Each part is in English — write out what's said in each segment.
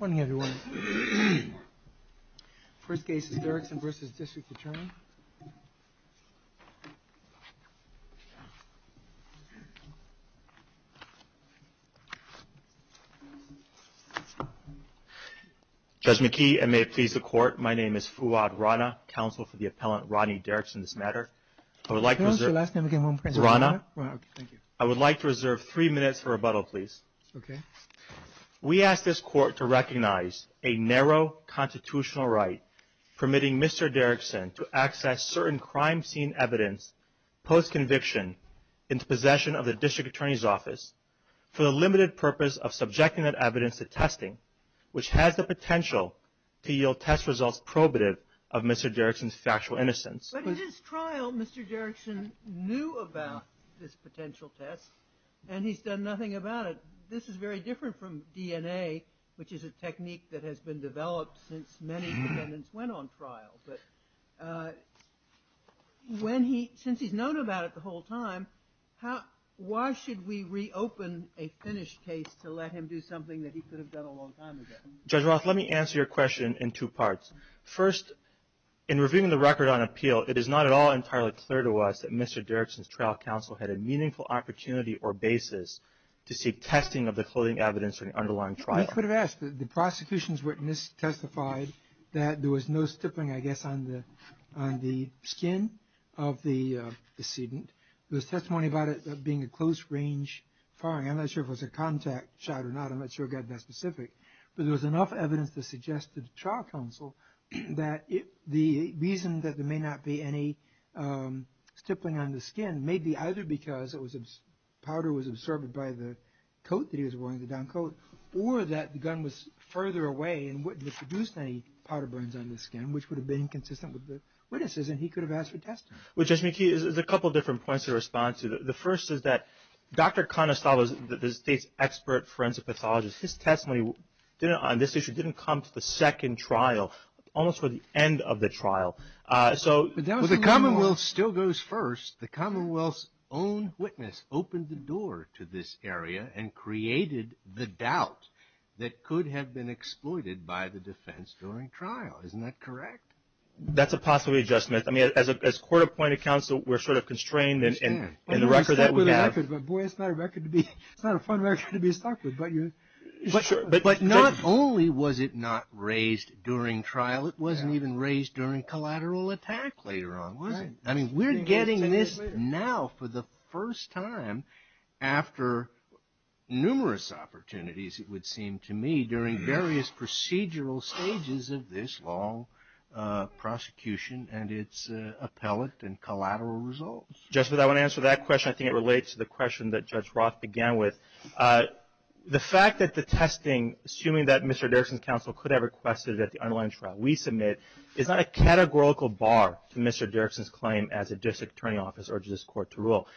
Good morning, everyone. First case is Derrickson v. District Attorney. Judge McKee, I may please the court. My name is Fuad Rana, counsel for the appellant Rodney Derrickson in this matter. I would like to reserve three minutes for rebuttal, please. We ask this court to recognize a narrow constitutional right permitting Mr. Derrickson to access certain crime scene evidence post-conviction into possession of the District Attorney's office for the limited purpose of subjecting that evidence to testing, which has the potential to yield test results probative of Mr. Derrickson's factual innocence. But in his trial, Mr. Derrickson knew about this potential test and he's done nothing about it. This is very different from DNA, which is a technique that has been developed since many defendants went on trial. But when he since he's known about it the whole time, why should we reopen a finished case to let him do something that he could have done a long time ago? Judge Roth, let me answer your question in two parts. First, in reviewing the record on appeal, it is not at all entirely clear to us that Mr. Derrickson's trial counsel had a meaningful opportunity or basis to seek testing of the clothing evidence in the underlying trial. You could have asked. The prosecution's witness testified that there was no stippling, I guess, on the skin of the decedent. There was testimony about it being a close-range firing. I'm not sure if it was a contact shot or not. I'm not sure it got that specific. But there was enough evidence to suggest to the trial counsel that the reason that there may not be any stippling on the skin may be either because powder was absorbed by the coat that he was wearing, the down coat, or that the gun was further away and wouldn't have produced any powder burns on the skin, which would have been inconsistent with the witnesses, and he could have asked for testing. Well, Judge McKee, there's a couple different points to respond to. The first is that Dr. Conestoga, the state's expert forensic pathologist, his testimony on this issue didn't come to the second trial, almost to the end of the trial. So the Commonwealth still goes first. The Commonwealth's own witness opened the door to this area and created the doubt that could have been exploited by the defense during trial. Isn't that correct? That's a possibility, Judge Smith. I mean, as court-appointed counsel, we're sort of constrained in the record that we have. Boy, it's not a record to be – it's not a fun record to be stuck with. But not only was it not raised during trial, it wasn't even raised during collateral attack later on, was it? I mean, we're getting this now for the first time after numerous opportunities, it would seem to me, during various procedural stages of this long prosecution and its appellate and collateral results. Judge Smith, I want to answer that question. I think it relates to the question that Judge Roth began with. The fact that the testing, assuming that Mr. Derrickson's counsel could have requested it at the underlying trial we submit, is not a categorical bar to Mr. Derrickson's claim as a district attorney office urges this court to rule.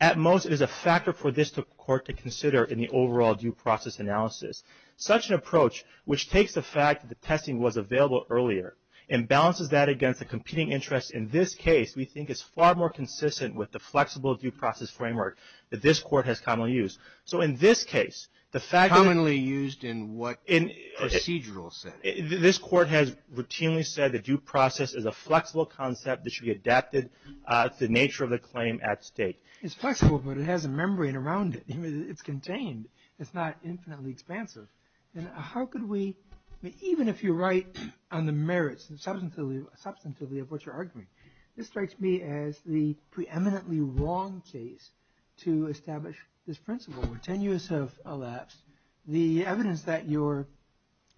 At most, it is a factor for this court to consider in the overall due process analysis. Such an approach, which takes the fact that the testing was available earlier and balances that against a competing interest in this case, we think is far more consistent with the flexible due process framework that this court has commonly used. So in this case, the fact that... Commonly used in what procedural setting? This court has routinely said the due process is a flexible concept that should be adapted to the nature of the claim at stake. It's flexible, but it has a membrane around it. It's contained. It's not infinitely expansive. And how could we, even if you're right on the merits, substantively, of what you're arguing, this strikes me as the preeminently wrong case to establish this principle. Ten years have elapsed. The evidence that you're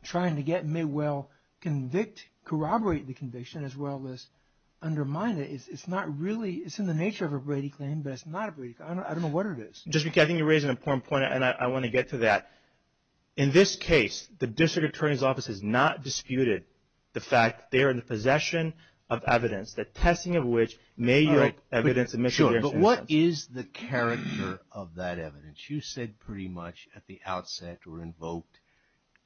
trying to get may well convict, corroborate the conviction, as well as undermine it. It's not really... It's in the nature of a Brady claim, but it's not a Brady claim. I don't know what it is. I think you raise an important point, and I want to get to that. In this case, the district attorney's office has not disputed the fact they are in possession of evidence, the testing of which may yield evidence of... Sure, but what is the character of that evidence? You said pretty much at the outset or invoked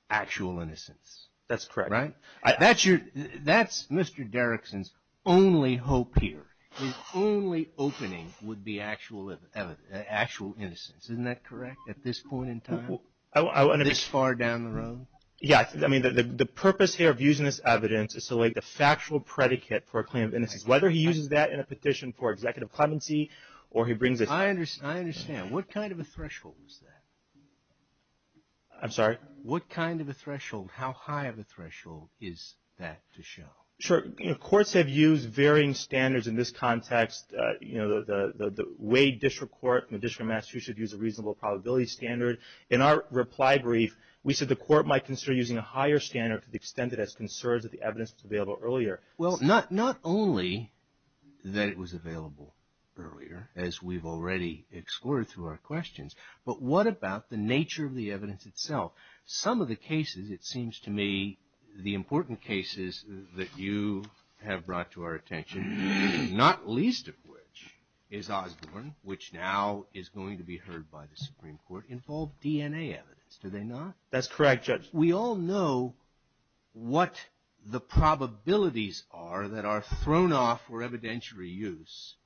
actual innocence. That's correct. Right? That's Mr. Derrickson's only hope here. His only opening would be actual innocence. Isn't that correct at this point in time, this far down the road? Yeah. I mean, the purpose here of using this evidence is to lay the factual predicate for a claim of innocence, whether he uses that in a petition for executive clemency or he brings it... I understand. What kind of a threshold is that? I'm sorry? What kind of a threshold, how high of a threshold is that to show? Sure. Courts have used varying standards in this context. The Wade District Court in the District of Massachusetts used a reasonable probability standard. In our reply brief, we said the court might consider using a higher standard to the extent that it has concerns that the evidence was available earlier. Well, not only that it was available earlier, as we've already explored through our questions, but what about the nature of the evidence itself? Some of the cases, it seems to me, the important cases that you have brought to our attention, not least of which is Osborne, which now is going to be heard by the Supreme Court, involve DNA evidence, do they not? That's correct, Judge. We all know what the probabilities are that are thrown off for evidentiary use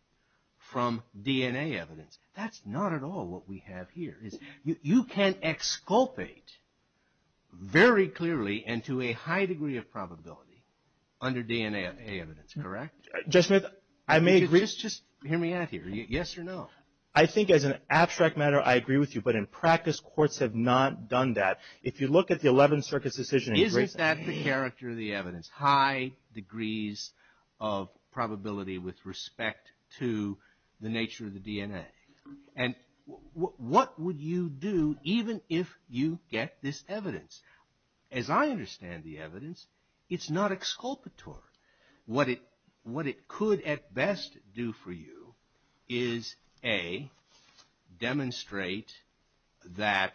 from DNA evidence. That's not at all what we have here. You can exculpate very clearly and to a high degree of probability under DNA evidence, correct? Judge Smith, I may agree. Just hear me out here. Yes or no? I think as an abstract matter, I agree with you. But in practice, courts have not done that. If you look at the Eleventh Circuit's decision in Grayson. Isn't that the character of the evidence, high degrees of probability with respect to the nature of the DNA? And what would you do even if you get this evidence? As I understand the evidence, it's not exculpatory. What it could at best do for you is A, demonstrate that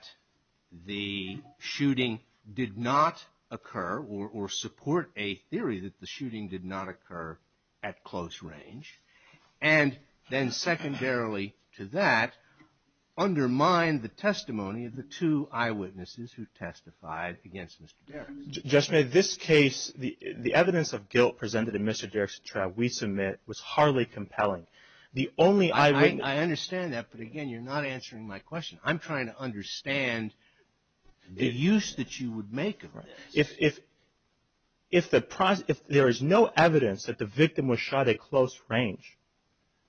the shooting did not occur or support a theory that the shooting did not occur at close range. And then secondarily to that, undermine the testimony of the two eyewitnesses who testified against Mr. Derricks. Judge Smith, this case, the evidence of guilt presented in Mr. Derrick's trial we submit was hardly compelling. I understand that, but again, you're not answering my question. I'm trying to understand the use that you would make of this. If there is no evidence that the victim was shot at close range,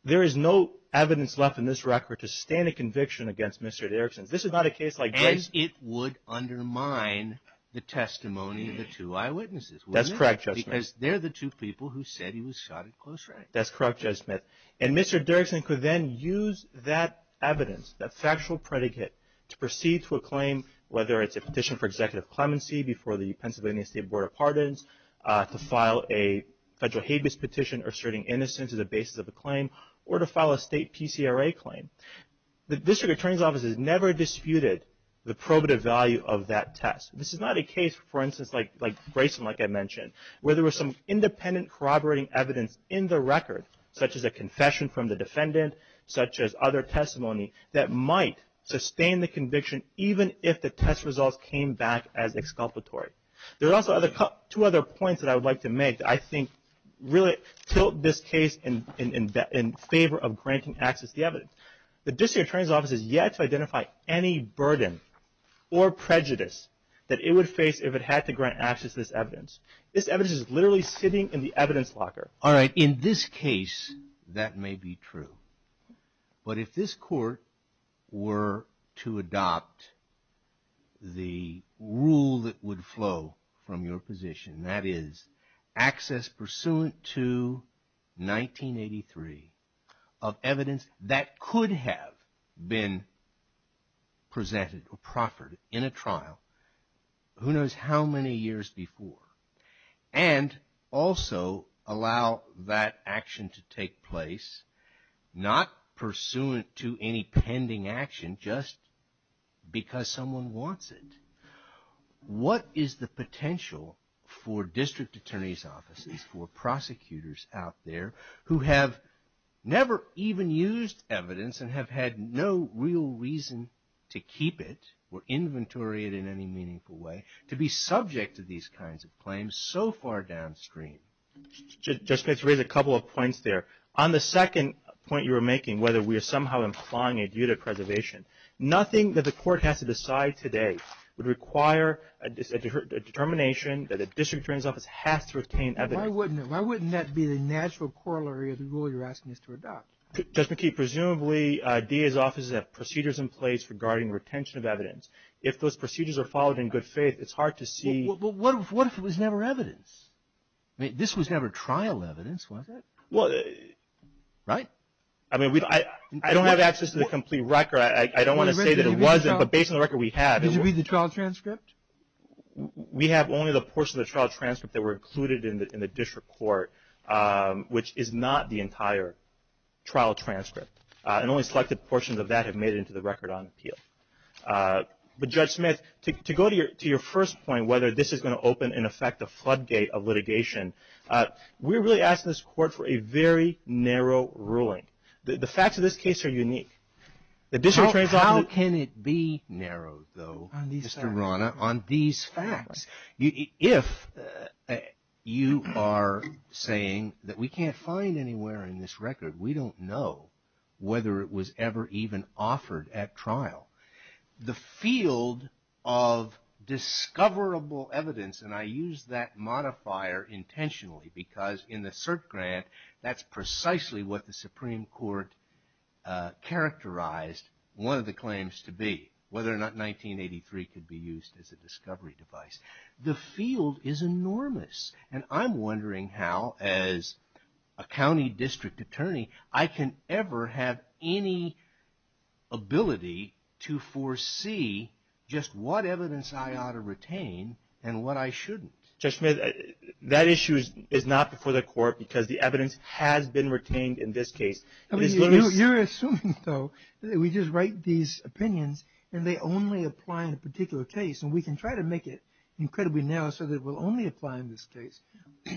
there is no evidence left in this record to stand a conviction against Mr. Derrickson. This is not a case like Grayson's. It would undermine the testimony of the two eyewitnesses, wouldn't it? That's correct, Judge Smith. Because they're the two people who said he was shot at close range. That's correct, Judge Smith. And Mr. Derrickson could then use that evidence, that factual predicate, to proceed to a claim, whether it's a petition for executive clemency before the Pennsylvania State Board of Pardons, to file a federal habeas petition asserting innocence as a basis of a claim, or to file a state PCRA claim. The District Attorney's Office has never disputed the probative value of that test. This is not a case, for instance, like Grayson, like I mentioned, where there was some independent corroborating evidence in the record, such as a confession from the defendant, such as other testimony, that might sustain the conviction even if the test results came back as exculpatory. There are also two other points that I would like to make that I think really tilt this case in favor of granting access to the evidence. The District Attorney's Office has yet to identify any burden or prejudice that it would face if it had to grant access to this evidence. This evidence is literally sitting in the evidence locker. All right. In this case, that may be true. But if this Court were to adopt the rule that would flow from your position, that is, access pursuant to 1983 of evidence that could have been presented or proffered in a trial, who knows how many years before, and also allow that action to take place, not pursuant to any pending action just because someone wants it, what is the potential for District Attorney's Offices, for prosecutors out there, who have never even used evidence and have had no real reason to keep it or inventory it in any meaningful way, to be subject to these kinds of claims so far downstream? Just to raise a couple of points there. On the second point you were making, whether we are somehow implying a duty of preservation, nothing that the Court has to decide today would require a determination that a District Attorney's Office has to retain evidence. Why wouldn't that be the natural corollary of the rule you're asking us to adopt? Judge McKee, presumably DA's Offices have procedures in place regarding retention of evidence. If those procedures are followed in good faith, it's hard to see. Well, what if it was never evidence? I mean, this was never trial evidence, was it? Right? I mean, I don't have access to the complete record. I don't want to say that it wasn't, but based on the record we have. Did you read the trial transcript? We have only the portion of the trial transcript that were included in the District Court, which is not the entire trial transcript. And only selected portions of that have made it into the record on appeal. But Judge Smith, to go to your first point, whether this is going to open and affect the floodgate of litigation, we're really asking this Court for a very narrow ruling. The facts of this case are unique. How can it be narrow, though, Mr. Rana, on these facts? If you are saying that we can't find anywhere in this record, we don't know whether it was ever even offered at trial. The field of discoverable evidence, and I use that modifier intentionally, because in the cert grant that's precisely what the Supreme Court characterized one of the claims to be, whether or not 1983 could be used as a discovery device. The field is enormous, and I'm wondering how, as a county district attorney, I can ever have any ability to foresee just what evidence I ought to retain and what I shouldn't. Judge Smith, that issue is not before the Court because the evidence has been retained in this case. You're assuming, though, that we just write these opinions and they only apply in a particular case. And we can try to make it incredibly narrow so that it will only apply in this case.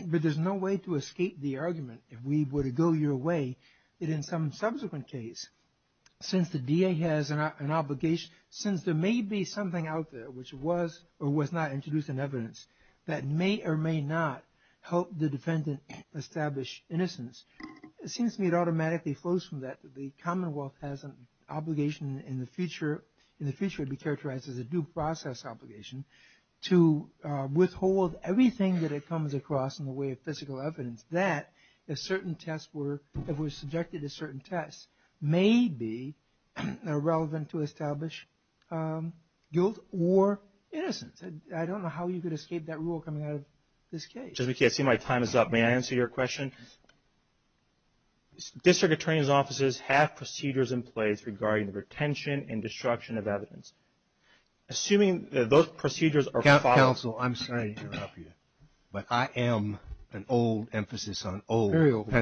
But there's no way to escape the argument if we were to go your way, that in some subsequent case, since the DA has an obligation, since there may be something out there which was or was not introduced in evidence that may or may not help the defendant establish innocence, it seems to me it automatically flows from that that the Commonwealth has an obligation in the future, in the future it would be characterized as a due process obligation, to withhold everything that it comes across in the way of physical evidence that if certain tests were, if it was subjected to certain tests, may be irrelevant to establish guilt or innocence. I don't know how you could escape that rule coming out of this case. Judge McKee, I see my time is up. May I answer your question? District attorney's offices have procedures in place regarding the retention and destruction of evidence. Assuming that those procedures are followed...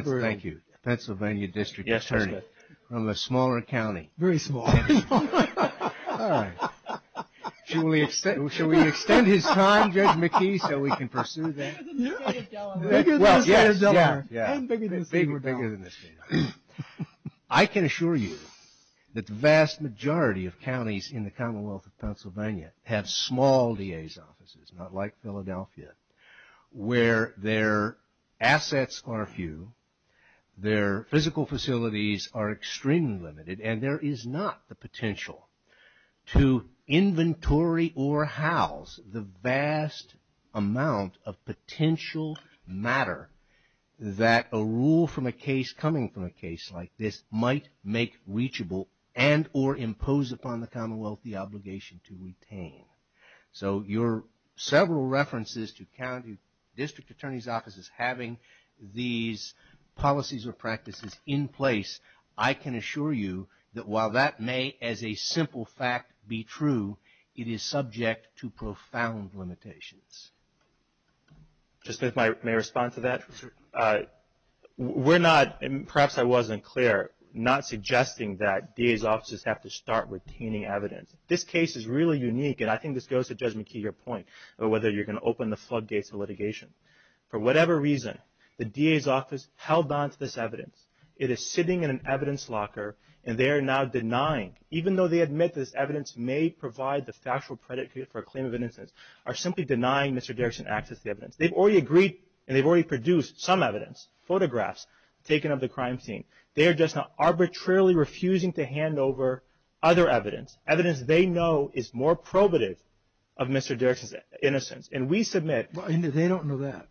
Thank you. Pennsylvania District Attorney from a smaller county. Very small. All right. Shall we extend his time, Judge McKee, so we can pursue that? Bigger than the state of Delaware. Well, yes. And bigger than the state of Delaware. Bigger than the state of Delaware. I can assure you that the vast majority of counties in the Commonwealth of Pennsylvania have small DA's offices, not like Philadelphia, where their assets are few, their physical facilities are extremely limited, and there is not the potential to inventory or house the vast amount of potential matter that a rule from a case, coming from a case like this, might make reachable and or impose upon the Commonwealth the obligation to retain. So your several references to county district attorney's offices having these policies or practices in place, I can assure you that while that may, as a simple fact, be true, it is subject to profound limitations. Just if I may respond to that. We're not, and perhaps I wasn't clear, not suggesting that DA's offices have to start retaining evidence. This case is really unique, and I think this goes to Judge McKee, your point, about whether you're going to open the floodgates of litigation. For whatever reason, the DA's office held on to this evidence. It is sitting in an evidence locker, and they are now denying, even though they admit this evidence may provide the factual predicate for a claim of innocence, are simply denying Mr. Derrickson access to the evidence. They've already agreed, and they've already produced some evidence, photographs taken of the crime scene. They are just now arbitrarily refusing to hand over other evidence, evidence they know is more probative of Mr. Derrickson's innocence, and we submit. Well, they don't know that,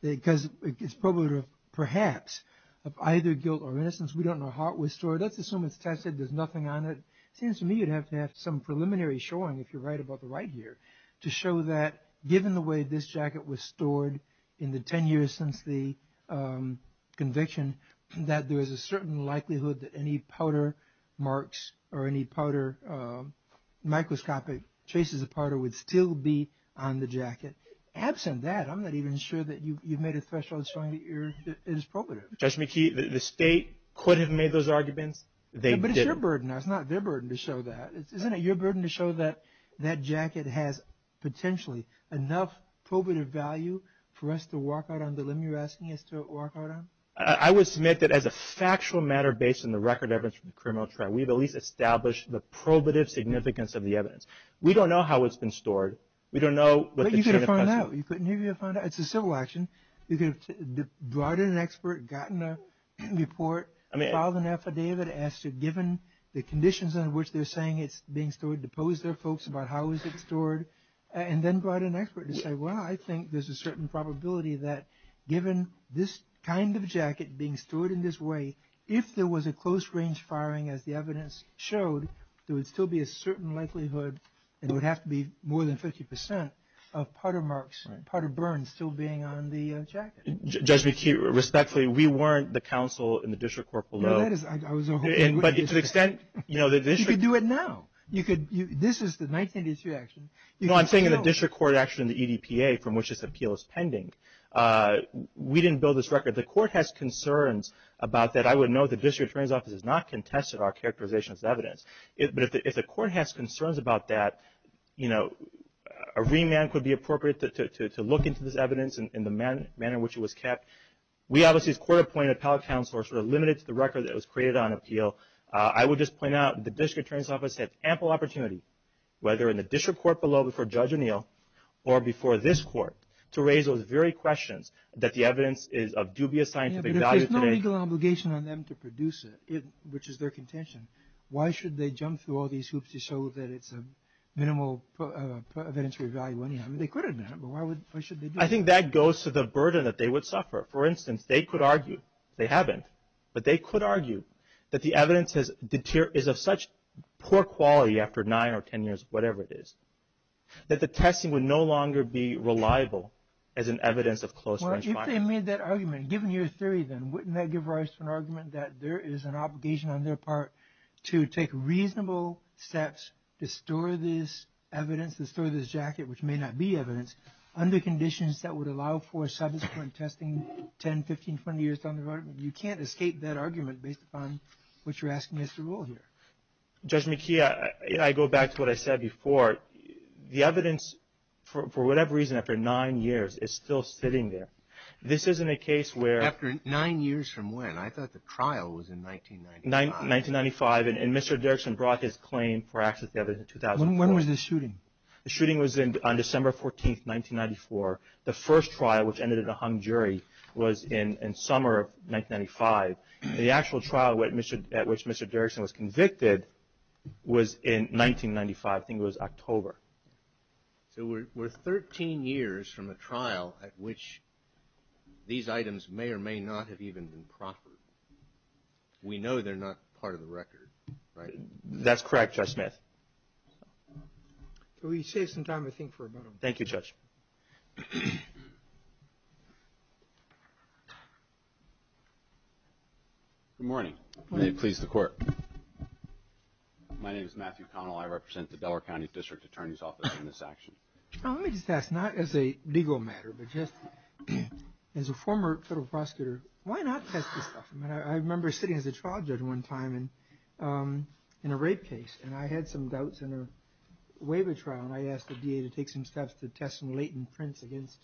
because it's probative, perhaps, of either guilt or innocence. We don't know how it was stored. Let's assume it's tested, there's nothing on it. It seems to me you'd have to have some preliminary showing, if you're right about the right here, to show that given the way this jacket was stored in the ten years since the conviction, that there is a certain likelihood that any powder marks or any powder microscopic traces of powder would still be on the jacket. Absent that, I'm not even sure that you've made a threshold showing that it is probative. Judge McKee, the State could have made those arguments. They didn't. But it's your burden. It's not their burden to show that. Isn't it your burden to show that that jacket has potentially enough probative value for us to walk out on the limb you're asking us to walk out on? I would submit that as a factual matter based on the record evidence from the criminal trial, we've at least established the probative significance of the evidence. We don't know how it's been stored. We don't know what the chain of custody is. But you could have found out. It's a civil action. You could have brought in an expert, gotten a report, filed an affidavit, as to given the conditions under which they're saying it's being stored, deposed their folks about how it was stored, and then brought in an expert to say, well, I think there's a certain probability that given this kind of jacket being stored in this way, if there was a close range firing as the evidence showed, there would still be a certain likelihood, and it would have to be more than 50 percent, of putter marks, putter burns still being on the jacket. Judge McKee, respectfully, we weren't the counsel in the district court below. But to the extent, you know, the district. You could do it now. This is the 1983 action. You know, I'm saying in the district court action, the EDPA, from which this appeal is pending. We didn't build this record. The court has concerns about that. I would note the district attorney's office has not contested our characterization as evidence. But if the court has concerns about that, you know, a remand could be appropriate to look into this evidence in the manner in which it was kept. We obviously, as court appointed appellate counselors, were limited to the record that was created on appeal. I would just point out the district attorney's office had ample opportunity, whether in the district court below before Judge O'Neill or before this court, to raise those very questions that the evidence is of dubious scientific value today. Yeah, but if there's no legal obligation on them to produce it, which is their contention, why should they jump through all these hoops to show that it's a minimal evidentiary value anyhow? I mean, they could have done it, but why should they do it? I think that goes to the burden that they would suffer. For instance, they could argue, they haven't, but they could argue that the evidence is of such poor quality after 9 or 10 years, whatever it is, that the testing would no longer be reliable as an evidence of close range findings. Well, if they made that argument, given your theory then, wouldn't that give rise to an argument that there is an obligation on their part to take reasonable steps to store this evidence, to store this jacket, which may not be evidence, under conditions that would allow for subsequent testing 10, 15, 20 years down the road? You can't escape that argument based upon what you're asking us to rule here. Judge McKee, I go back to what I said before. The evidence, for whatever reason, after 9 years, is still sitting there. This isn't a case where… After 9 years from when? I thought the trial was in 1995. 1995. And Mr. Dirksen brought his claim for access to the evidence in 2004. When was the shooting? The shooting was on December 14, 1994. The first trial, which ended in a hung jury, was in summer of 1995. The actual trial at which Mr. Dirksen was convicted was in 1995. I think it was October. So we're 13 years from a trial at which these items may or may not have even been proffered. We know they're not part of the record, right? That's correct, Judge Smith. Can we save some time, I think, for a moment? Thank you, Judge. Good morning. May it please the Court. My name is Matthew Connell. I represent the Delaware County District Attorney's Office in this action. Let me just ask, not as a legal matter, but just as a former federal prosecutor, why not test this stuff? I remember sitting as a trial judge one time in a rape case, and I had some doubts in a waiver trial. And I asked the DA to take some steps to test some latent prints against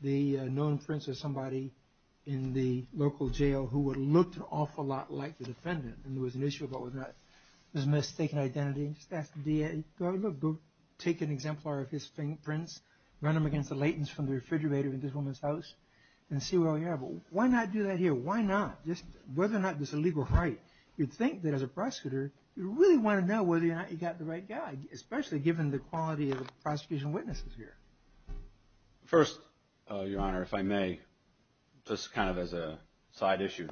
the known prints of somebody in the local jail who would have looked an awful lot like the defendant. And there was an issue about whether or not it was a mistaken identity. I just asked the DA, go take an exemplar of his prints, run them against the latents from the refrigerator in this woman's house, and see what we have. Why not do that here? Why not? Whether or not this is a legal right, you'd think that as a prosecutor, you really want to know whether or not you've got the right guy, especially given the quality of the prosecution witnesses here. First, Your Honor, if I may, just kind of as a side issue,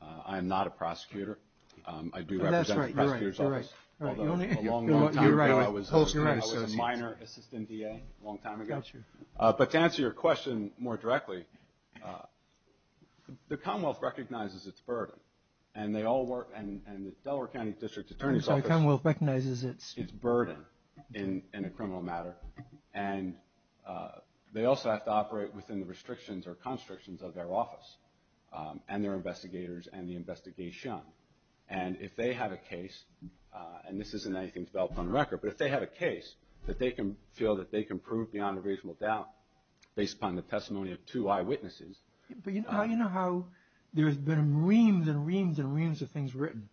I am not a prosecutor. I do represent the prosecutor's office. You're right. You're right. I was a minor assistant DA a long time ago. But to answer your question more directly, the Commonwealth recognizes its burden, and the Delaware County District Attorney's Office recognizes its burden in a criminal matter. And they also have to operate within the restrictions or constrictions of their office and their investigators and the investigation. And if they have a case, and this isn't anything developed on record, but if they have a case that they can feel that they can prove beyond a reasonable doubt based upon the testimony of two eyewitnesses. But you know how there's been reams and reams and reams of things written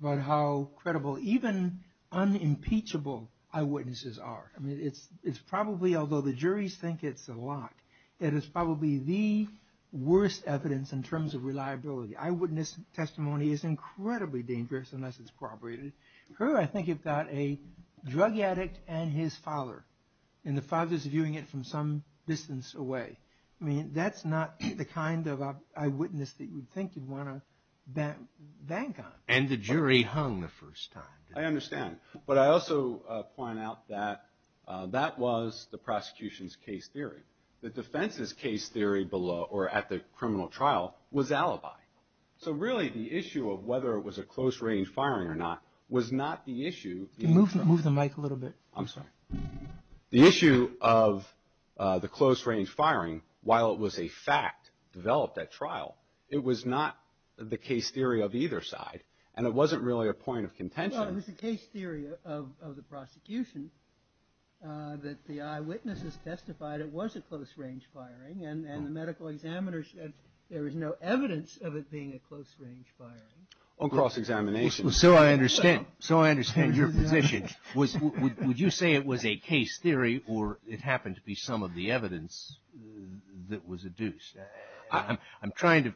about how credible even unimpeachable eyewitnesses are. I mean, it's probably, although the juries think it's a lot, that it's probably the worst evidence in terms of reliability. Eyewitness testimony is incredibly dangerous unless it's corroborated. Here I think you've got a drug addict and his father, and the father's viewing it from some distance away. I mean, that's not the kind of eyewitness that you'd think you'd want to bank on. And the jury hung the first time. I understand. But I also point out that that was the prosecution's case theory. The defense's case theory below or at the criminal trial was alibi. So really the issue of whether it was a close-range firing or not was not the issue. Move the mic a little bit. I'm sorry. The issue of the close-range firing, while it was a fact developed at trial, it was not the case theory of either side. And it wasn't really a point of contention. Well, it was the case theory of the prosecution that the eyewitnesses testified it was a close-range firing, and the medical examiners said there was no evidence of it being a close-range firing. On cross-examination. So I understand. So I understand your position. Would you say it was a case theory or it happened to be some of the evidence that was adduced? I'm trying to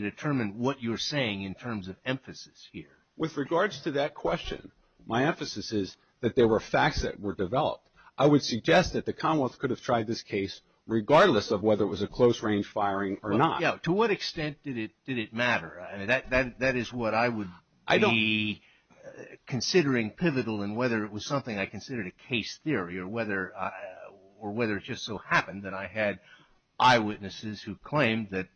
determine what you're saying in terms of emphasis here. With regards to that question, my emphasis is that there were facts that were developed. I would suggest that the Commonwealth could have tried this case regardless of whether it was a close-range firing or not. To what extent did it matter? That is what I would be considering pivotal in whether it was something I considered a case theory or whether it just so happened that I had eyewitnesses who claimed that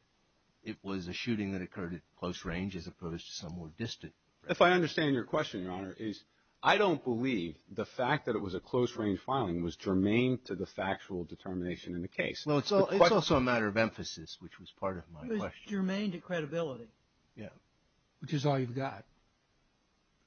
it was a shooting that occurred at close range as opposed to somewhere distant. If I understand your question, Your Honor, I don't believe the fact that it was a close-range filing was germane to the factual determination in the case. It's also a matter of emphasis, which was part of my question. It's germane to credibility. Yeah. Which is all you've got.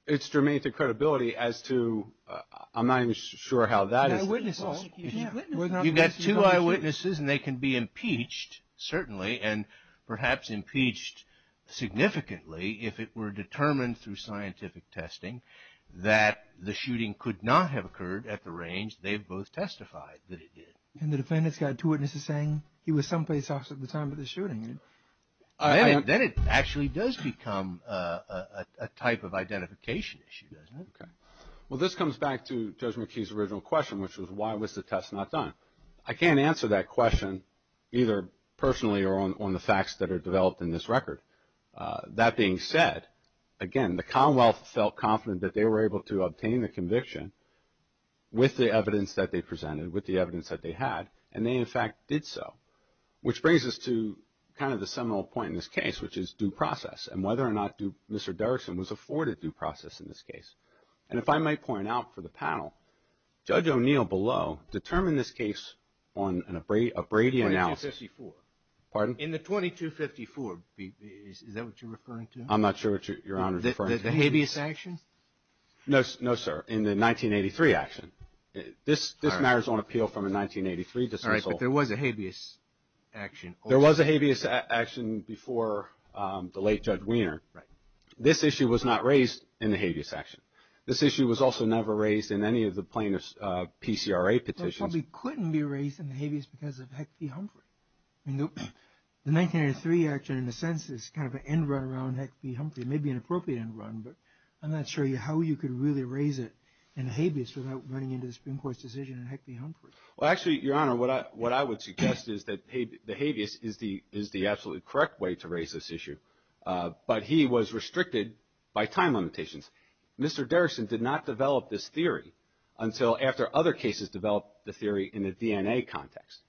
It's germane to credibility as to – I'm not even sure how that is – The eyewitnesses. You've got two eyewitnesses and they can be impeached, certainly, and perhaps impeached significantly if it were determined through scientific testing that the shooting could not have occurred at the range they've both testified that it did. And the defendant's got two witnesses saying he was someplace else at the time of the shooting. Then it actually does become a type of identification issue, doesn't it? Okay. Well, this comes back to Judge McKee's original question, which was why was the test not done? I can't answer that question either personally or on the facts that are developed in this record. That being said, again, the Commonwealth felt confident that they were able to obtain the conviction with the evidence that they presented, with the evidence that they had, and they, in fact, did so. Which brings us to kind of the seminal point in this case, which is due process and whether or not Mr. Derrickson was afforded due process in this case. And if I might point out for the panel, Judge O'Neill below determined this case on a Brady analysis. 2254. Pardon? In the 2254, is that what you're referring to? I'm not sure what Your Honor is referring to. The habeas action? No, sir. In the 1983 action. This matters on appeal from a 1983 dismissal. All right, but there was a habeas action. There was a habeas action before the late Judge Weiner. Right. This issue was not raised in the habeas action. This issue was also never raised in any of the plaintiff's PCRA petitions. It probably couldn't be raised in the habeas because of Heck v. Humphrey. The 1983 action, in a sense, is kind of an end run around Heck v. Humphrey. It may be an appropriate end run, but I'm not sure how you could really raise it in habeas without running into the Supreme Court's decision in Heck v. Humphrey. Well, actually, Your Honor, what I would suggest is that the habeas is the absolutely correct way to raise this issue. But he was restricted by time limitations. Mr. Derrickson did not develop this theory until after other cases developed the theory in the DNA context.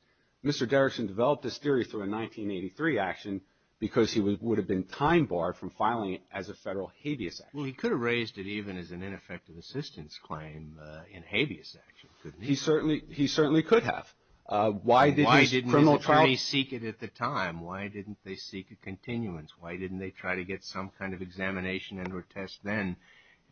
Mr. Derrickson developed this theory through a 1983 action because he would have been time barred from filing it as a federal habeas action. Well, he could have raised it even as an ineffective assistance claim in habeas action, couldn't he? He certainly could have. Why didn't his criminal trial? Why didn't his attorneys seek it at the time? Why didn't they seek a continuance? Why didn't they try to get some kind of examination and or test then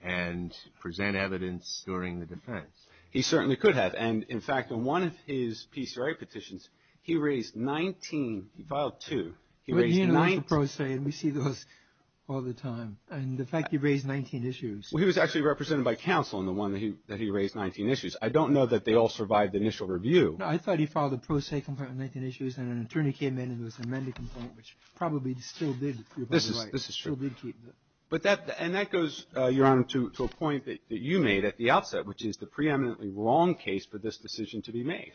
and present evidence during the defense? He certainly could have. And, in fact, in one of his PCRA petitions, he raised 19. He filed two. He raised 19. But he knows the pro se, and we see those all the time. And the fact he raised 19 issues. Well, he was actually represented by counsel in the one that he raised 19 issues. I don't know that they all survived the initial review. No, I thought he filed a pro se complaint with 19 issues, and an attorney came in and it was an amended complaint, which probably still did, if you're right. This is true. And that goes, Your Honor, to a point that you made at the outset, which is the preeminently wrong case for this decision to be made.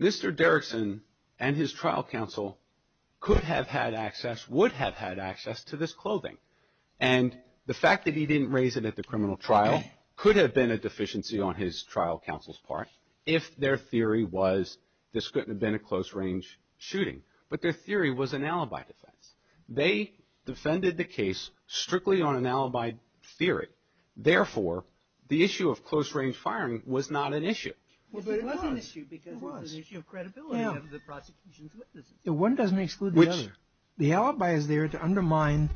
Mr. Derrickson and his trial counsel could have had access, would have had access, to this clothing. And the fact that he didn't raise it at the criminal trial could have been a deficiency on his trial counsel's part if their theory was this couldn't have been a close-range shooting. But their theory was an alibi defense. They defended the case strictly on an alibi theory. Therefore, the issue of close-range firing was not an issue. It was an issue because it was an issue of credibility of the prosecution's witnesses. One doesn't exclude the other. The alibi is there to undermine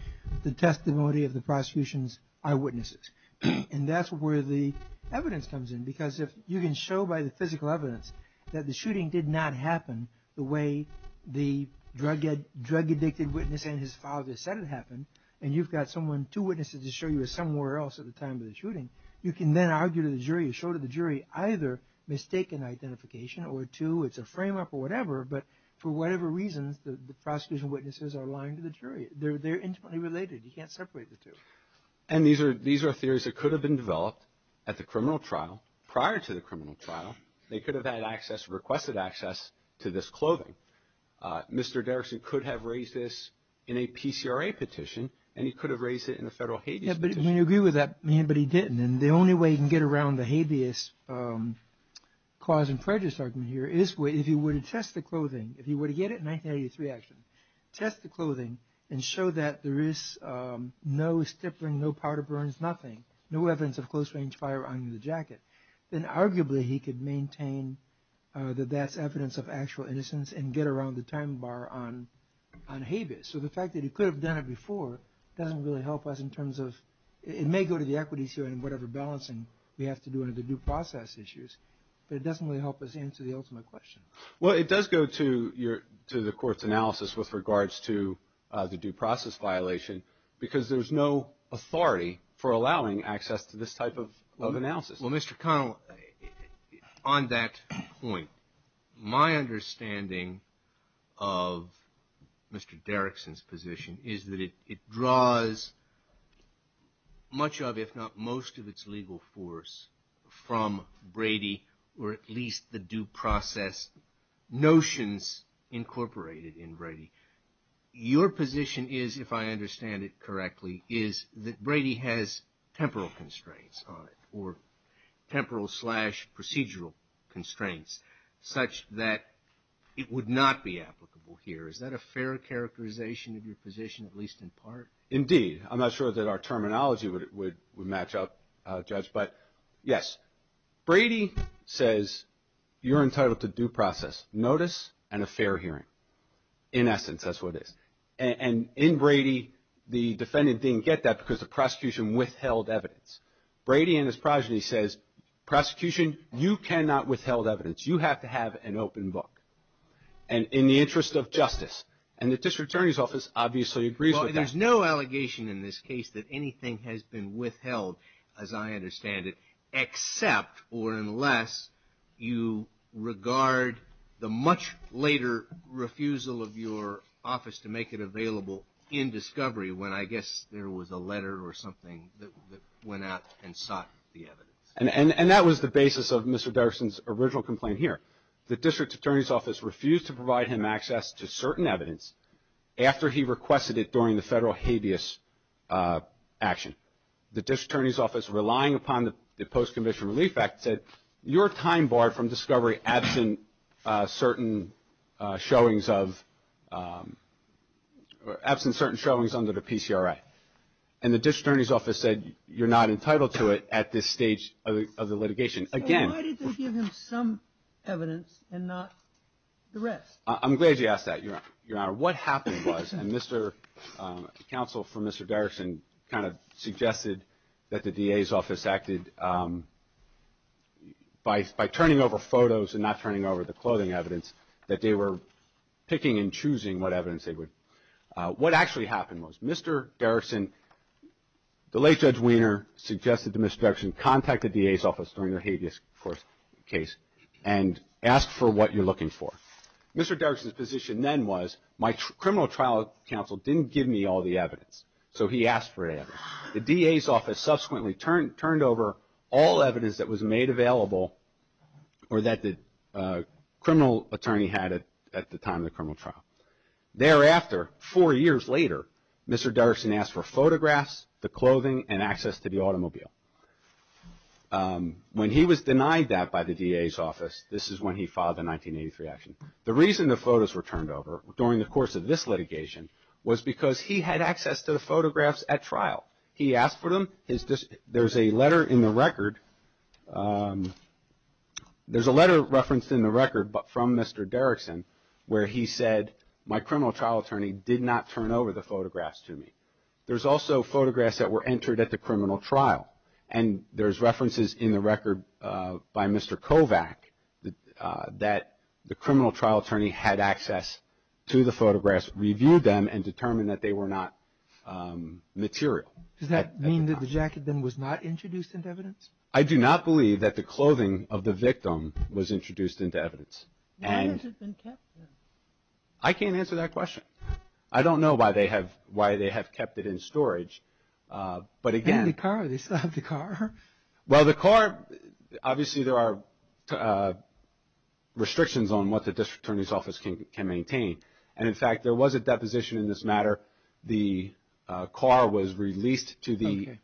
the testimony of the prosecution's eyewitnesses. And that's where the evidence comes in, because if you can show by the physical evidence that the shooting did not happen the way the drug-addicted witness and his father said it happened, and you've got someone, two witnesses to show you as somewhere else at the time of the shooting, you can then argue to the jury, show to the jury either mistaken identification or two, it's a frame-up or whatever, but for whatever reasons, the prosecution's witnesses are lying to the jury. They're intimately related. You can't separate the two. And these are theories that could have been developed at the criminal trial, prior to the criminal trial. They could have had access, requested access, to this clothing. Mr. Derrickson could have raised this in a PCRA petition, and he could have raised it in a federal habeas petition. Yeah, but you can agree with that, but he didn't. And the only way you can get around the habeas cause and prejudice argument here is if he were to test the clothing, if he were to get a 1983 action, test the clothing, and show that there is no stippling, no powder burns, nothing, no evidence of close-range fire on the jacket, then arguably he could maintain that that's evidence of actual innocence and get around the time bar on habeas. So the fact that he could have done it before doesn't really help us in terms of, it may go to the equities jury in whatever balancing we have to do under the due process issues, but it doesn't really help us answer the ultimate question. Well, it does go to the court's analysis with regards to the due process violation, because there's no authority for allowing access to this type of analysis. Well, Mr. Connell, on that point, my understanding of Mr. Derrickson's position is that it draws much of, if not most of its legal force from Brady, or at least the due process notions incorporated in Brady. Your position is, if I understand it correctly, is that Brady has temporal constraints on it, or temporal slash procedural constraints, such that it would not be applicable here. Is that a fair characterization of your position, at least in part? Indeed. I'm not sure that our terminology would match up, Judge, but yes. Brady says you're entitled to due process notice and a fair hearing. In essence, that's what it is. And in Brady, the defendant didn't get that because the prosecution withheld evidence. Brady and his progeny says, prosecution, you cannot withheld evidence. You have to have an open book, and in the interest of justice. And the district attorney's office obviously agrees with that. There's no allegation in this case that anything has been withheld, as I understand it, except or unless you regard the much later refusal of your office to make it available in discovery, when I guess there was a letter or something that went out and sought the evidence. And that was the basis of Mr. Derrickson's original complaint here. The district attorney's office refused to provide him access to certain evidence after he requested it during the federal habeas action. The district attorney's office, relying upon the Post-Conviction Relief Act, said your time barred from discovery absent certain showings under the PCRI. And the district attorney's office said you're not entitled to it at this stage of the litigation. So why did they give him some evidence and not the rest? I'm glad you asked that, Your Honor. What happened was, and the counsel for Mr. Derrickson kind of suggested that the DA's office acted, by turning over photos and not turning over the clothing evidence, that they were picking and choosing what evidence they would. What actually happened was Mr. Derrickson, the late Judge Wiener, suggested to Mr. Derrickson, contact the DA's office during the habeas case and ask for what you're looking for. Mr. Derrickson's position then was, my criminal trial counsel didn't give me all the evidence, so he asked for evidence. The DA's office subsequently turned over all evidence that was made available or that the criminal attorney had at the time of the criminal trial. Thereafter, four years later, Mr. Derrickson asked for photographs, the clothing, and access to the automobile. When he was denied that by the DA's office, this is when he filed the 1983 action. The reason the photos were turned over during the course of this litigation was because he had access to the photographs at trial. He asked for them. There's a letter in the record. There's a letter referenced in the record from Mr. Derrickson where he said, my criminal trial attorney did not turn over the photographs to me. There's also photographs that were entered at the criminal trial, and there's references in the record by Mr. Kovach that the criminal trial attorney had access to the photographs, reviewed them, and determined that they were not material. Does that mean that the jacket then was not introduced into evidence? I do not believe that the clothing of the victim was introduced into evidence. Why has it been kept there? I can't answer that question. I don't know why they have kept it in storage. And the car. They still have the car. Well, the car, obviously there are restrictions on what the district attorney's office can maintain. And, in fact, there was a deposition in this matter. The car was released to the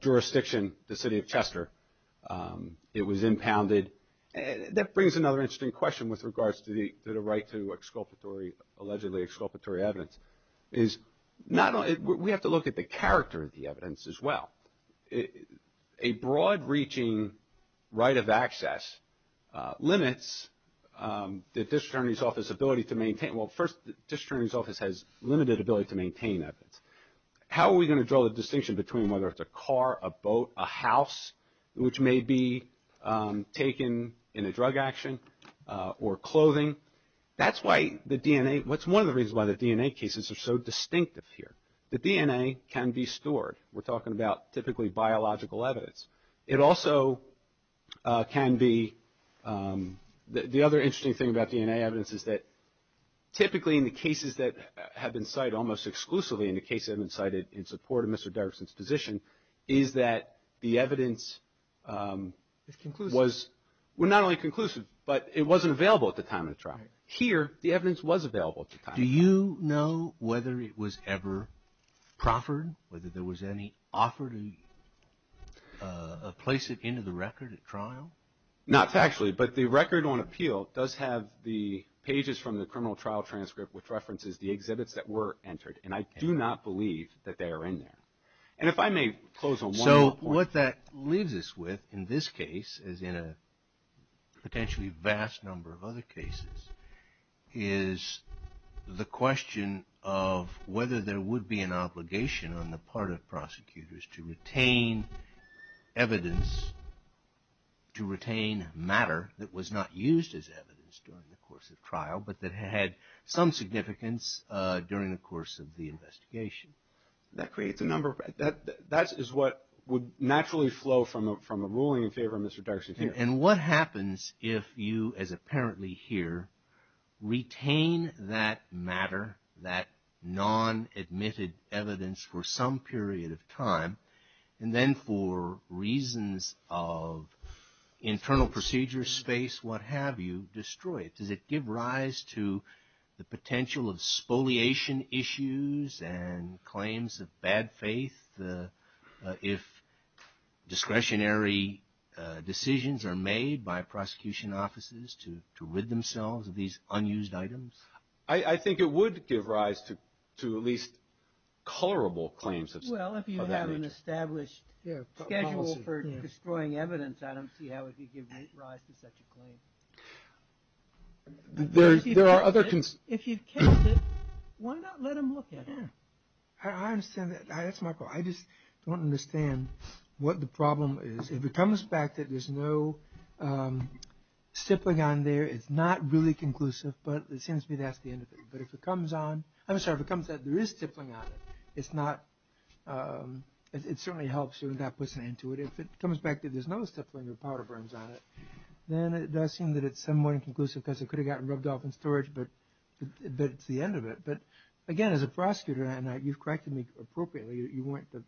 jurisdiction, the city of Chester. It was impounded. That brings another interesting question with regards to the right to allegedly exculpatory evidence. We have to look at the character of the evidence as well. A broad-reaching right of access limits the district attorney's office ability to maintain. Well, first, the district attorney's office has limited ability to maintain evidence. How are we going to draw the distinction between whether it's a car, a boat, a house, which may be taken in a drug action, or clothing? That's why the DNA, that's one of the reasons why the DNA cases are so distinctive here. The DNA can be stored. We're talking about typically biological evidence. It also can be the other interesting thing about DNA evidence is that typically in the cases that have been cited, almost exclusively in the cases that have been cited in support of Mr. Dirksen's position, is that the evidence was not only conclusive, but it wasn't available at the time of the trial. Here, the evidence was available at the time. Do you know whether it was ever proffered, whether there was any offer to place it into the record at trial? Not actually, but the record on appeal does have the pages from the criminal trial transcript, which references the exhibits that were entered, and I do not believe that they are in there. And if I may close on one point. What that leaves us with in this case, as in a potentially vast number of other cases, is the question of whether there would be an obligation on the part of prosecutors to retain evidence, to retain matter that was not used as evidence during the course of trial, but that had some significance during the course of the investigation. That is what would naturally flow from a ruling in favor of Mr. Dirksen here. And what happens if you, as apparently here, retain that matter, that non-admitted evidence for some period of time, and then for reasons of internal procedure space, what have you, destroy it? Does it give rise to the potential of spoliation issues and claims of bad faith if discretionary decisions are made by prosecution offices to rid themselves of these unused items? I think it would give rise to at least colorable claims of that nature. I don't have an established schedule for destroying evidence. I don't see how it could give rise to such a claim. If you've kept it, why not let them look at it? I understand that. That's my problem. I just don't understand what the problem is. If it comes back that there's no stippling on there, it's not really conclusive, but it seems to me that's the end of it. I'm sorry, if it comes back that there is stippling on it, it certainly helps you and that puts an end to it. If it comes back that there's no stippling or powder burns on it, then it does seem that it's somewhat inconclusive because it could have gotten rubbed off in storage, but it's the end of it. But again, as a prosecutor, and you've corrected me appropriately, you went from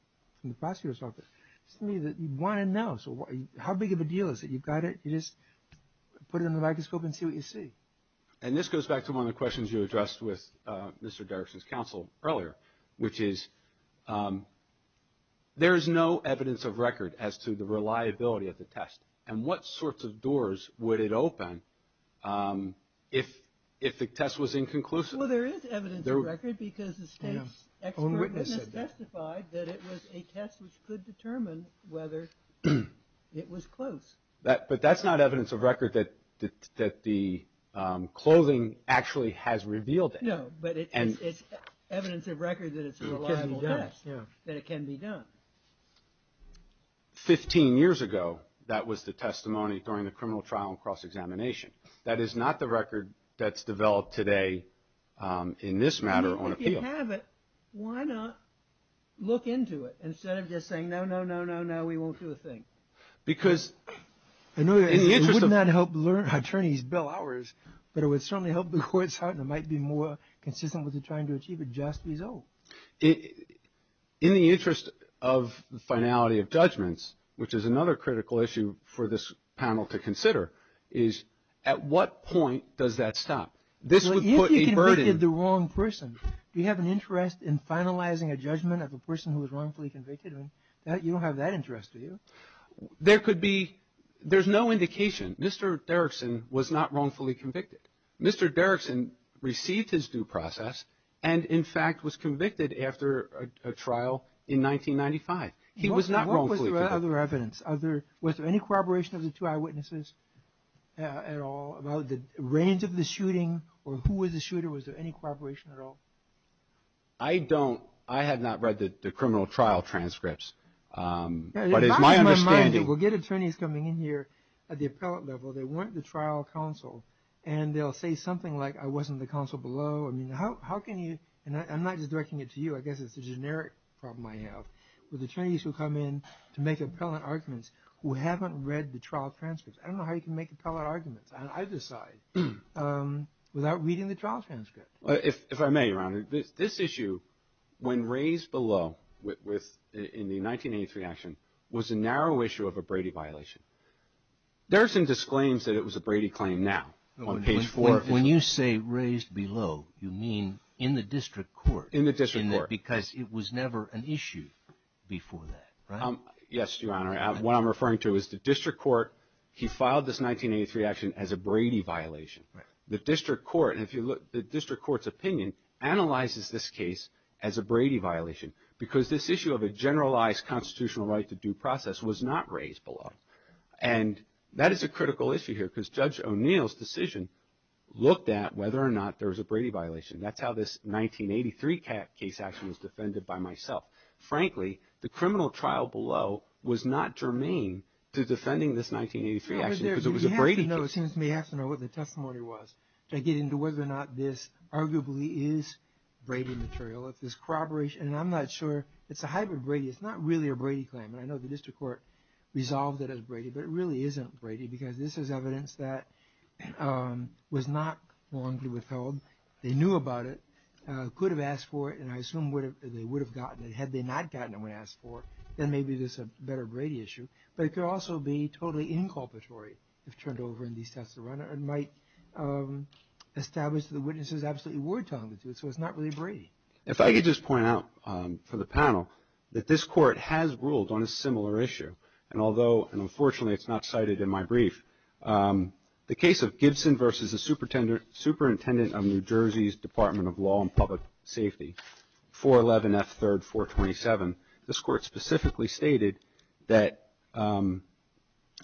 the prosecutor's office. It's to me that you want to know. So how big of a deal is it? You've got it. You just put it under the microscope and see what you see. And this goes back to one of the questions you addressed with Mr. Derrickson's counsel earlier, which is there is no evidence of record as to the reliability of the test, and what sorts of doors would it open if the test was inconclusive? Well, there is evidence of record because the state's expert witness testified that it was a test which could determine whether it was close. But that's not evidence of record that the clothing actually has revealed it. No, but it's evidence of record that it's a reliable test, that it can be done. Fifteen years ago, that was the testimony during the criminal trial and cross-examination. That is not the record that's developed today in this matter on appeal. If you have it, why not look into it instead of just saying, no, no, no, no, no, we won't do a thing? Because in the interest of – It would not help attorneys bill hours, but it would certainly help the court's heart and it might be more consistent with trying to achieve a just result. In the interest of the finality of judgments, which is another critical issue for this panel to consider, is at what point does that stop? This would put a burden – If you convicted the wrong person, do you have an interest in finalizing a judgment of a person who was wrongfully convicted? You don't have that interest, do you? There could be – there's no indication. Mr. Derrickson was not wrongfully convicted. Mr. Derrickson received his due process and, in fact, was convicted after a trial in 1995. He was not wrongfully convicted. What was the other evidence? Was there any corroboration of the two eyewitnesses at all about the range of the shooting or who was the shooter? Was there any corroboration at all? I don't – I have not read the criminal trial transcripts. But it's my understanding – It bogs my mind that we'll get attorneys coming in here at the appellate level. They want the trial counsel and they'll say something like, I wasn't the counsel below. I mean, how can you – and I'm not just directing it to you. I guess it's a generic problem I have with attorneys who come in to make appellate arguments who haven't read the trial transcripts. I don't know how you can make appellate arguments on either side without reading the trial transcript. If I may, Your Honor, this issue, when raised below in the 1983 action, was a narrow issue of a Brady violation. Derrickson disclaims that it was a Brady claim now on page 4. When you say raised below, you mean in the district court. In the district court. Because it was never an issue before that, right? Yes, Your Honor. What I'm referring to is the district court, he filed this 1983 action as a Brady violation. Right. The district court, and if you look, the district court's opinion analyzes this case as a Brady violation because this issue of a generalized constitutional right to due process was not raised below. And that is a critical issue here because Judge O'Neill's decision looked at whether or not there was a Brady violation. That's how this 1983 case action was defended by myself. Frankly, the criminal trial below was not germane to defending this 1983 action because it was a Brady case. I don't know, it seems to me I have to know what the testimony was to get into whether or not this arguably is Brady material. If this corroboration, and I'm not sure, it's a hybrid Brady. It's not really a Brady claim, and I know the district court resolved it as Brady, but it really isn't Brady because this is evidence that was not long to be withheld. They knew about it, could have asked for it, and I assume they would have gotten it. Had they not gotten it when asked for it, then maybe this is a better Brady issue. But it could also be totally inculpatory if turned over in these tests and run it and might establish that the witnesses absolutely were talking to it, so it's not really Brady. If I could just point out for the panel that this court has ruled on a similar issue, and although unfortunately it's not cited in my brief, the case of Gibson versus the Superintendent of New Jersey's Department of Law and Public Safety, 411 F. 3rd. 427, this court specifically stated that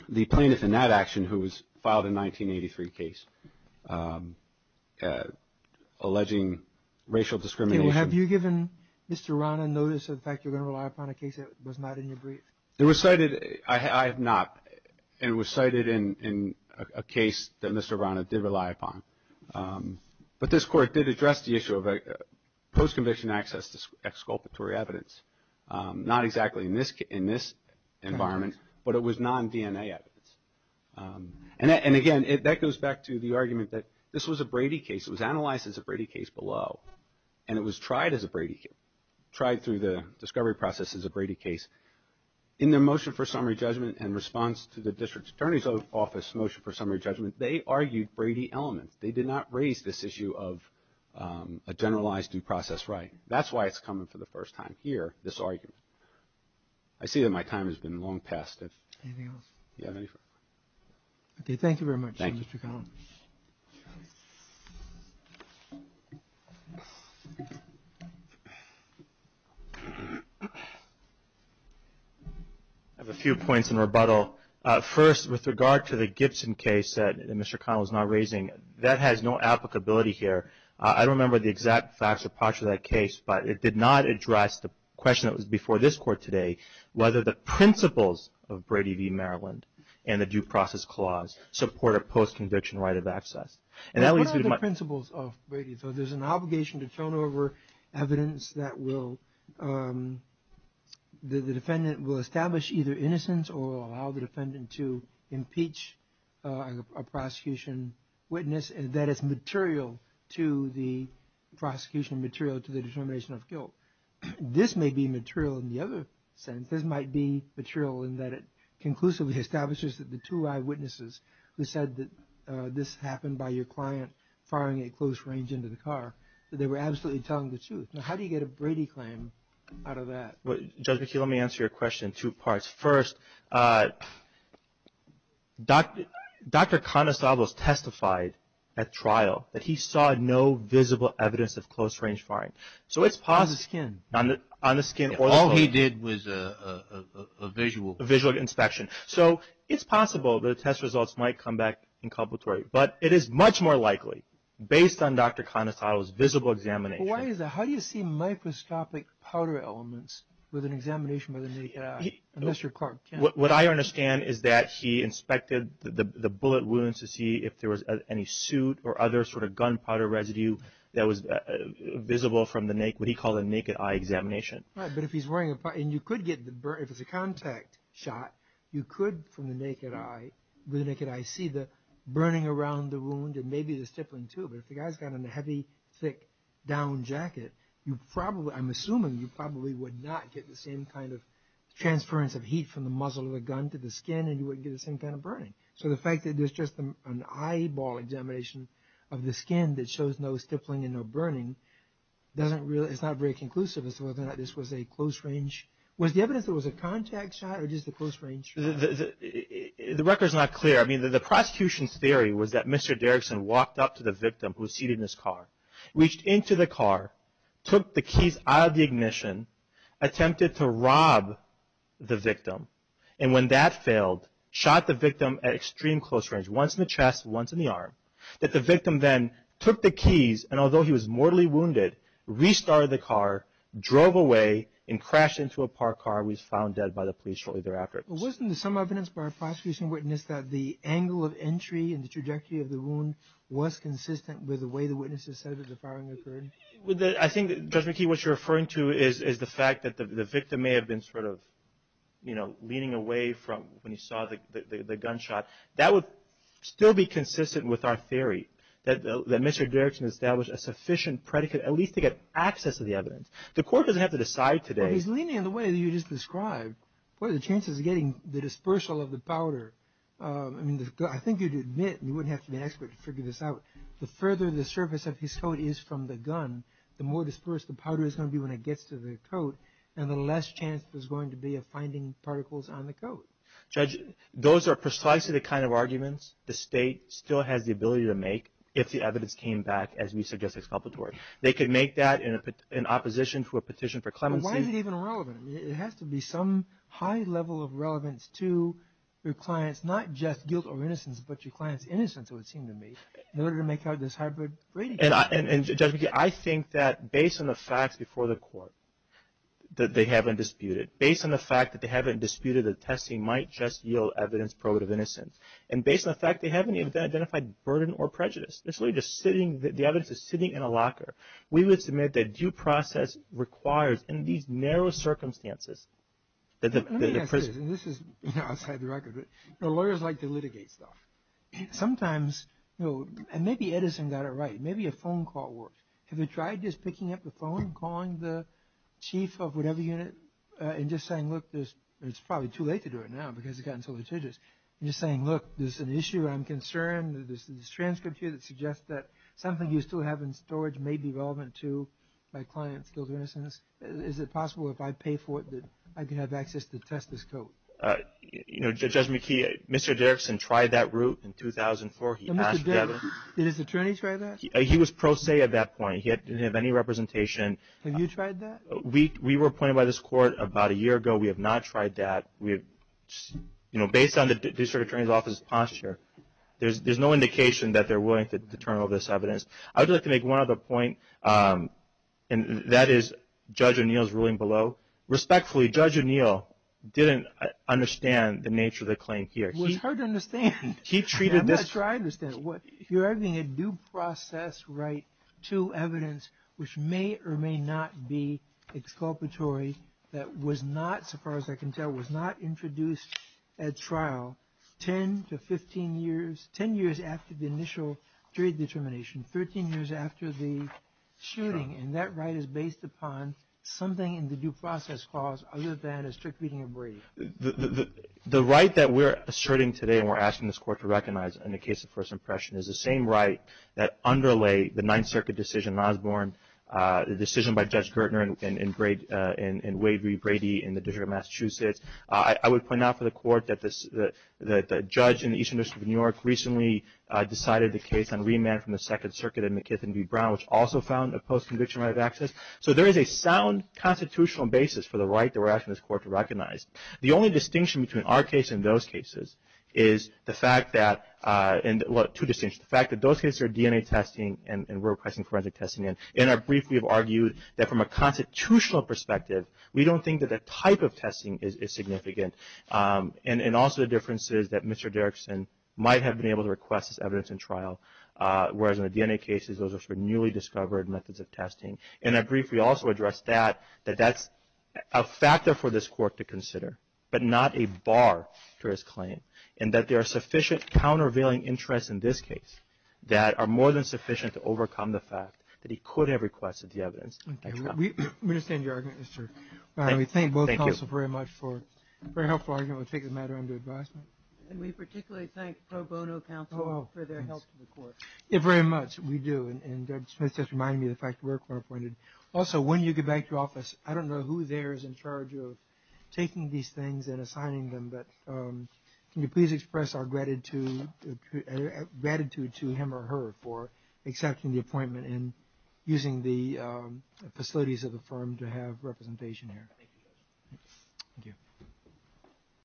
the plaintiff in that action who was filed in 1983 case alleging racial discrimination. Have you given Mr. Rana notice of the fact you're going to rely upon a case that was not in your brief? It was cited. I have not, and it was cited in a case that Mr. Rana did rely upon. But this court did address the issue of post-conviction access to exculpatory evidence. Not exactly in this environment, but it was non-DNA evidence. And again, that goes back to the argument that this was a Brady case. It was analyzed as a Brady case below, and it was tried as a Brady case. Tried through the discovery process as a Brady case. In their motion for summary judgment and response to the district attorney's office motion for summary judgment, they argued Brady elements. They did not raise this issue of a generalized due process right. That's why it's coming for the first time here, this argument. I see that my time has been long past. Anything else? Yeah. Okay. Thank you very much, Mr. Collins. Thank you. I have a few points in rebuttal. First, with regard to the Gibson case that Mr. Connell is now raising, that has no applicability here. I don't remember the exact facts or posture of that case, but it did not address the question that was before this court today, whether the principles of Brady v. Maryland and the due process clause support a post-conviction right of access. And that leads me to my — What are the principles of Brady? So there's an obligation to turn over evidence that will — the defendant will establish either innocence or allow the defendant to impeach a prosecution witness that is material to the prosecution, material to the determination of guilt. This may be material in the other sense. This might be material in that it conclusively establishes that the two eyewitnesses who said that this happened by your client firing at close range into the car, that they were absolutely telling the truth. Now, how do you get a Brady claim out of that? Judge McKee, let me answer your question in two parts. First, Dr. Conestoglos testified at trial that he saw no visible evidence of close-range firing. So it's — On the skin. On the skin. All he did was a visual — A visual inspection. So it's possible that the test results might come back inculpatory. But it is much more likely, based on Dr. Conestoglos' visible examination — But why is that? How do you see microscopic powder elements with an examination by the naked eye? Unless you're Clark Kent. What I understand is that he inspected the bullet wounds to see if there was any soot or other sort of gunpowder residue that was visible from the — what he called a naked eye examination. Right. But if he's wearing a — And you could get the — if it's a contact shot, you could, from the naked eye, see the burning around the wound and maybe the stippling, too. But if the guy's got on a heavy, thick, down jacket, you probably — I'm assuming you probably would not get the same kind of transference of heat from the muzzle of a gun to the skin, and you wouldn't get the same kind of burning. So the fact that there's just an eyeball examination of the skin that shows no stippling and no burning doesn't really — I don't know whether or not this was a close-range — was the evidence that it was a contact shot or just a close-range shot? The record's not clear. I mean, the prosecution's theory was that Mr. Derrickson walked up to the victim who was seated in his car, reached into the car, took the keys out of the ignition, attempted to rob the victim, and when that failed, shot the victim at extreme close range, once in the chest, once in the arm. That the victim then took the keys, and although he was mortally wounded, restarted the car, drove away, and crashed into a parked car and was found dead by the police shortly thereafter. Wasn't there some evidence by a prosecution witness that the angle of entry and the trajectory of the wound was consistent with the way the witnesses said that the firing occurred? I think, Judge McKee, what you're referring to is the fact that the victim may have been sort of, you know, leaning away from when he saw the gunshot. That would still be consistent with our theory, that Mr. Derrickson established a sufficient predicate, at least to get access to the evidence. The court doesn't have to decide today. Well, he's leaning in the way that you just described. What are the chances of getting the dispersal of the powder? I mean, I think you'd admit, and you wouldn't have to be an expert to figure this out, the further the surface of his coat is from the gun, the more dispersed the powder is going to be when it gets to the coat, and the less chance there's going to be of finding particles on the coat. Judge, those are precisely the kind of arguments the State still has the ability to make if the evidence came back as we suggest it's palpatory. They could make that in opposition to a petition for clemency. Why is it even relevant? I mean, it has to be some high level of relevance to your client's not just guilt or innocence, but your client's innocence, it would seem to me, in order to make out this hybrid predicate. And, Judge McKeon, I think that based on the facts before the court that they haven't disputed, based on the fact that they haven't disputed the testing might just yield evidence probative innocence, and based on the fact they haven't identified burden or prejudice, it's really just sitting, the evidence is sitting in a locker. We would submit that due process requires, in these narrow circumstances, that the prison. Let me ask you this, and this is outside the record, but lawyers like to litigate stuff. Sometimes, and maybe Edison got it right, maybe a phone call works. Have you tried just picking up the phone, calling the chief of whatever unit, and just saying, look, it's probably too late to do it now because it's gotten so litigious, and just saying, look, there's an issue I'm concerned, there's a transcript here that suggests that something you still have in storage may be relevant to my client's guilt or innocence. Is it possible if I pay for it that I can have access to test this code? Judge McKee, Mr. Derrickson tried that route in 2004. Did his attorney try that? He was pro se at that point. He didn't have any representation. Have you tried that? We were appointed by this court about a year ago. We have not tried that. Based on the district attorney's office's posture, there's no indication that they're willing to turn over this evidence. I would like to make one other point, and that is Judge O'Neill's ruling below. Respectfully, Judge O'Neill didn't understand the nature of the claim here. Well, it's hard to understand. I'm not sure I understand. You're arguing a due process right to evidence which may or may not be exculpatory, that was not, so far as I can tell, was not introduced at trial 10 to 15 years, 10 years after the initial jury determination, 13 years after the shooting, and that right is based upon something in the due process clause other than a strict reading of Brady. The right that we're asserting today, and we're asking this court to recognize in the case of first impression, is the same right that underlay the Ninth Circuit decision in Osborne, the decision by Judge Gertner in Wade v. Brady in the District of Massachusetts. I would point out for the court that the judge in the Eastern District of New York recently decided the case on remand from the Second Circuit in McKithin v. Brown, which also found a post-conviction right of access. So there is a sound constitutional basis for the right that we're asking this court to recognize. The only distinction between our case and those cases is the fact that, well, two distinctions. The fact that those cases are DNA testing and we're requesting forensic testing, and in our brief we have argued that from a constitutional perspective, we don't think that the type of testing is significant. And also the difference is that Mr. Derrickson might have been able to request this evidence in trial, whereas in the DNA cases, those are for newly discovered methods of testing. In our brief, we also addressed that, that that's a factor for this court to consider, but not a bar to his claim, and that there are sufficient countervailing interests in this case that are more than sufficient to overcome the fact that he could have requested the evidence. We understand your argument, Mr. We thank both counsels very much for a very helpful argument. We'll take the matter under advisement. And we particularly thank pro bono counsel for their help to the court. Yes, very much. We do. And Judge Smith just reminded me of the fact that we're co-appointed. Also, when you get back to office, I don't know who there is in charge of taking these things and assigning them, but can you please express our gratitude to him or her for accepting the appointment and using the facilities of the firm to have representation here. Thank you, Judge. Thank you.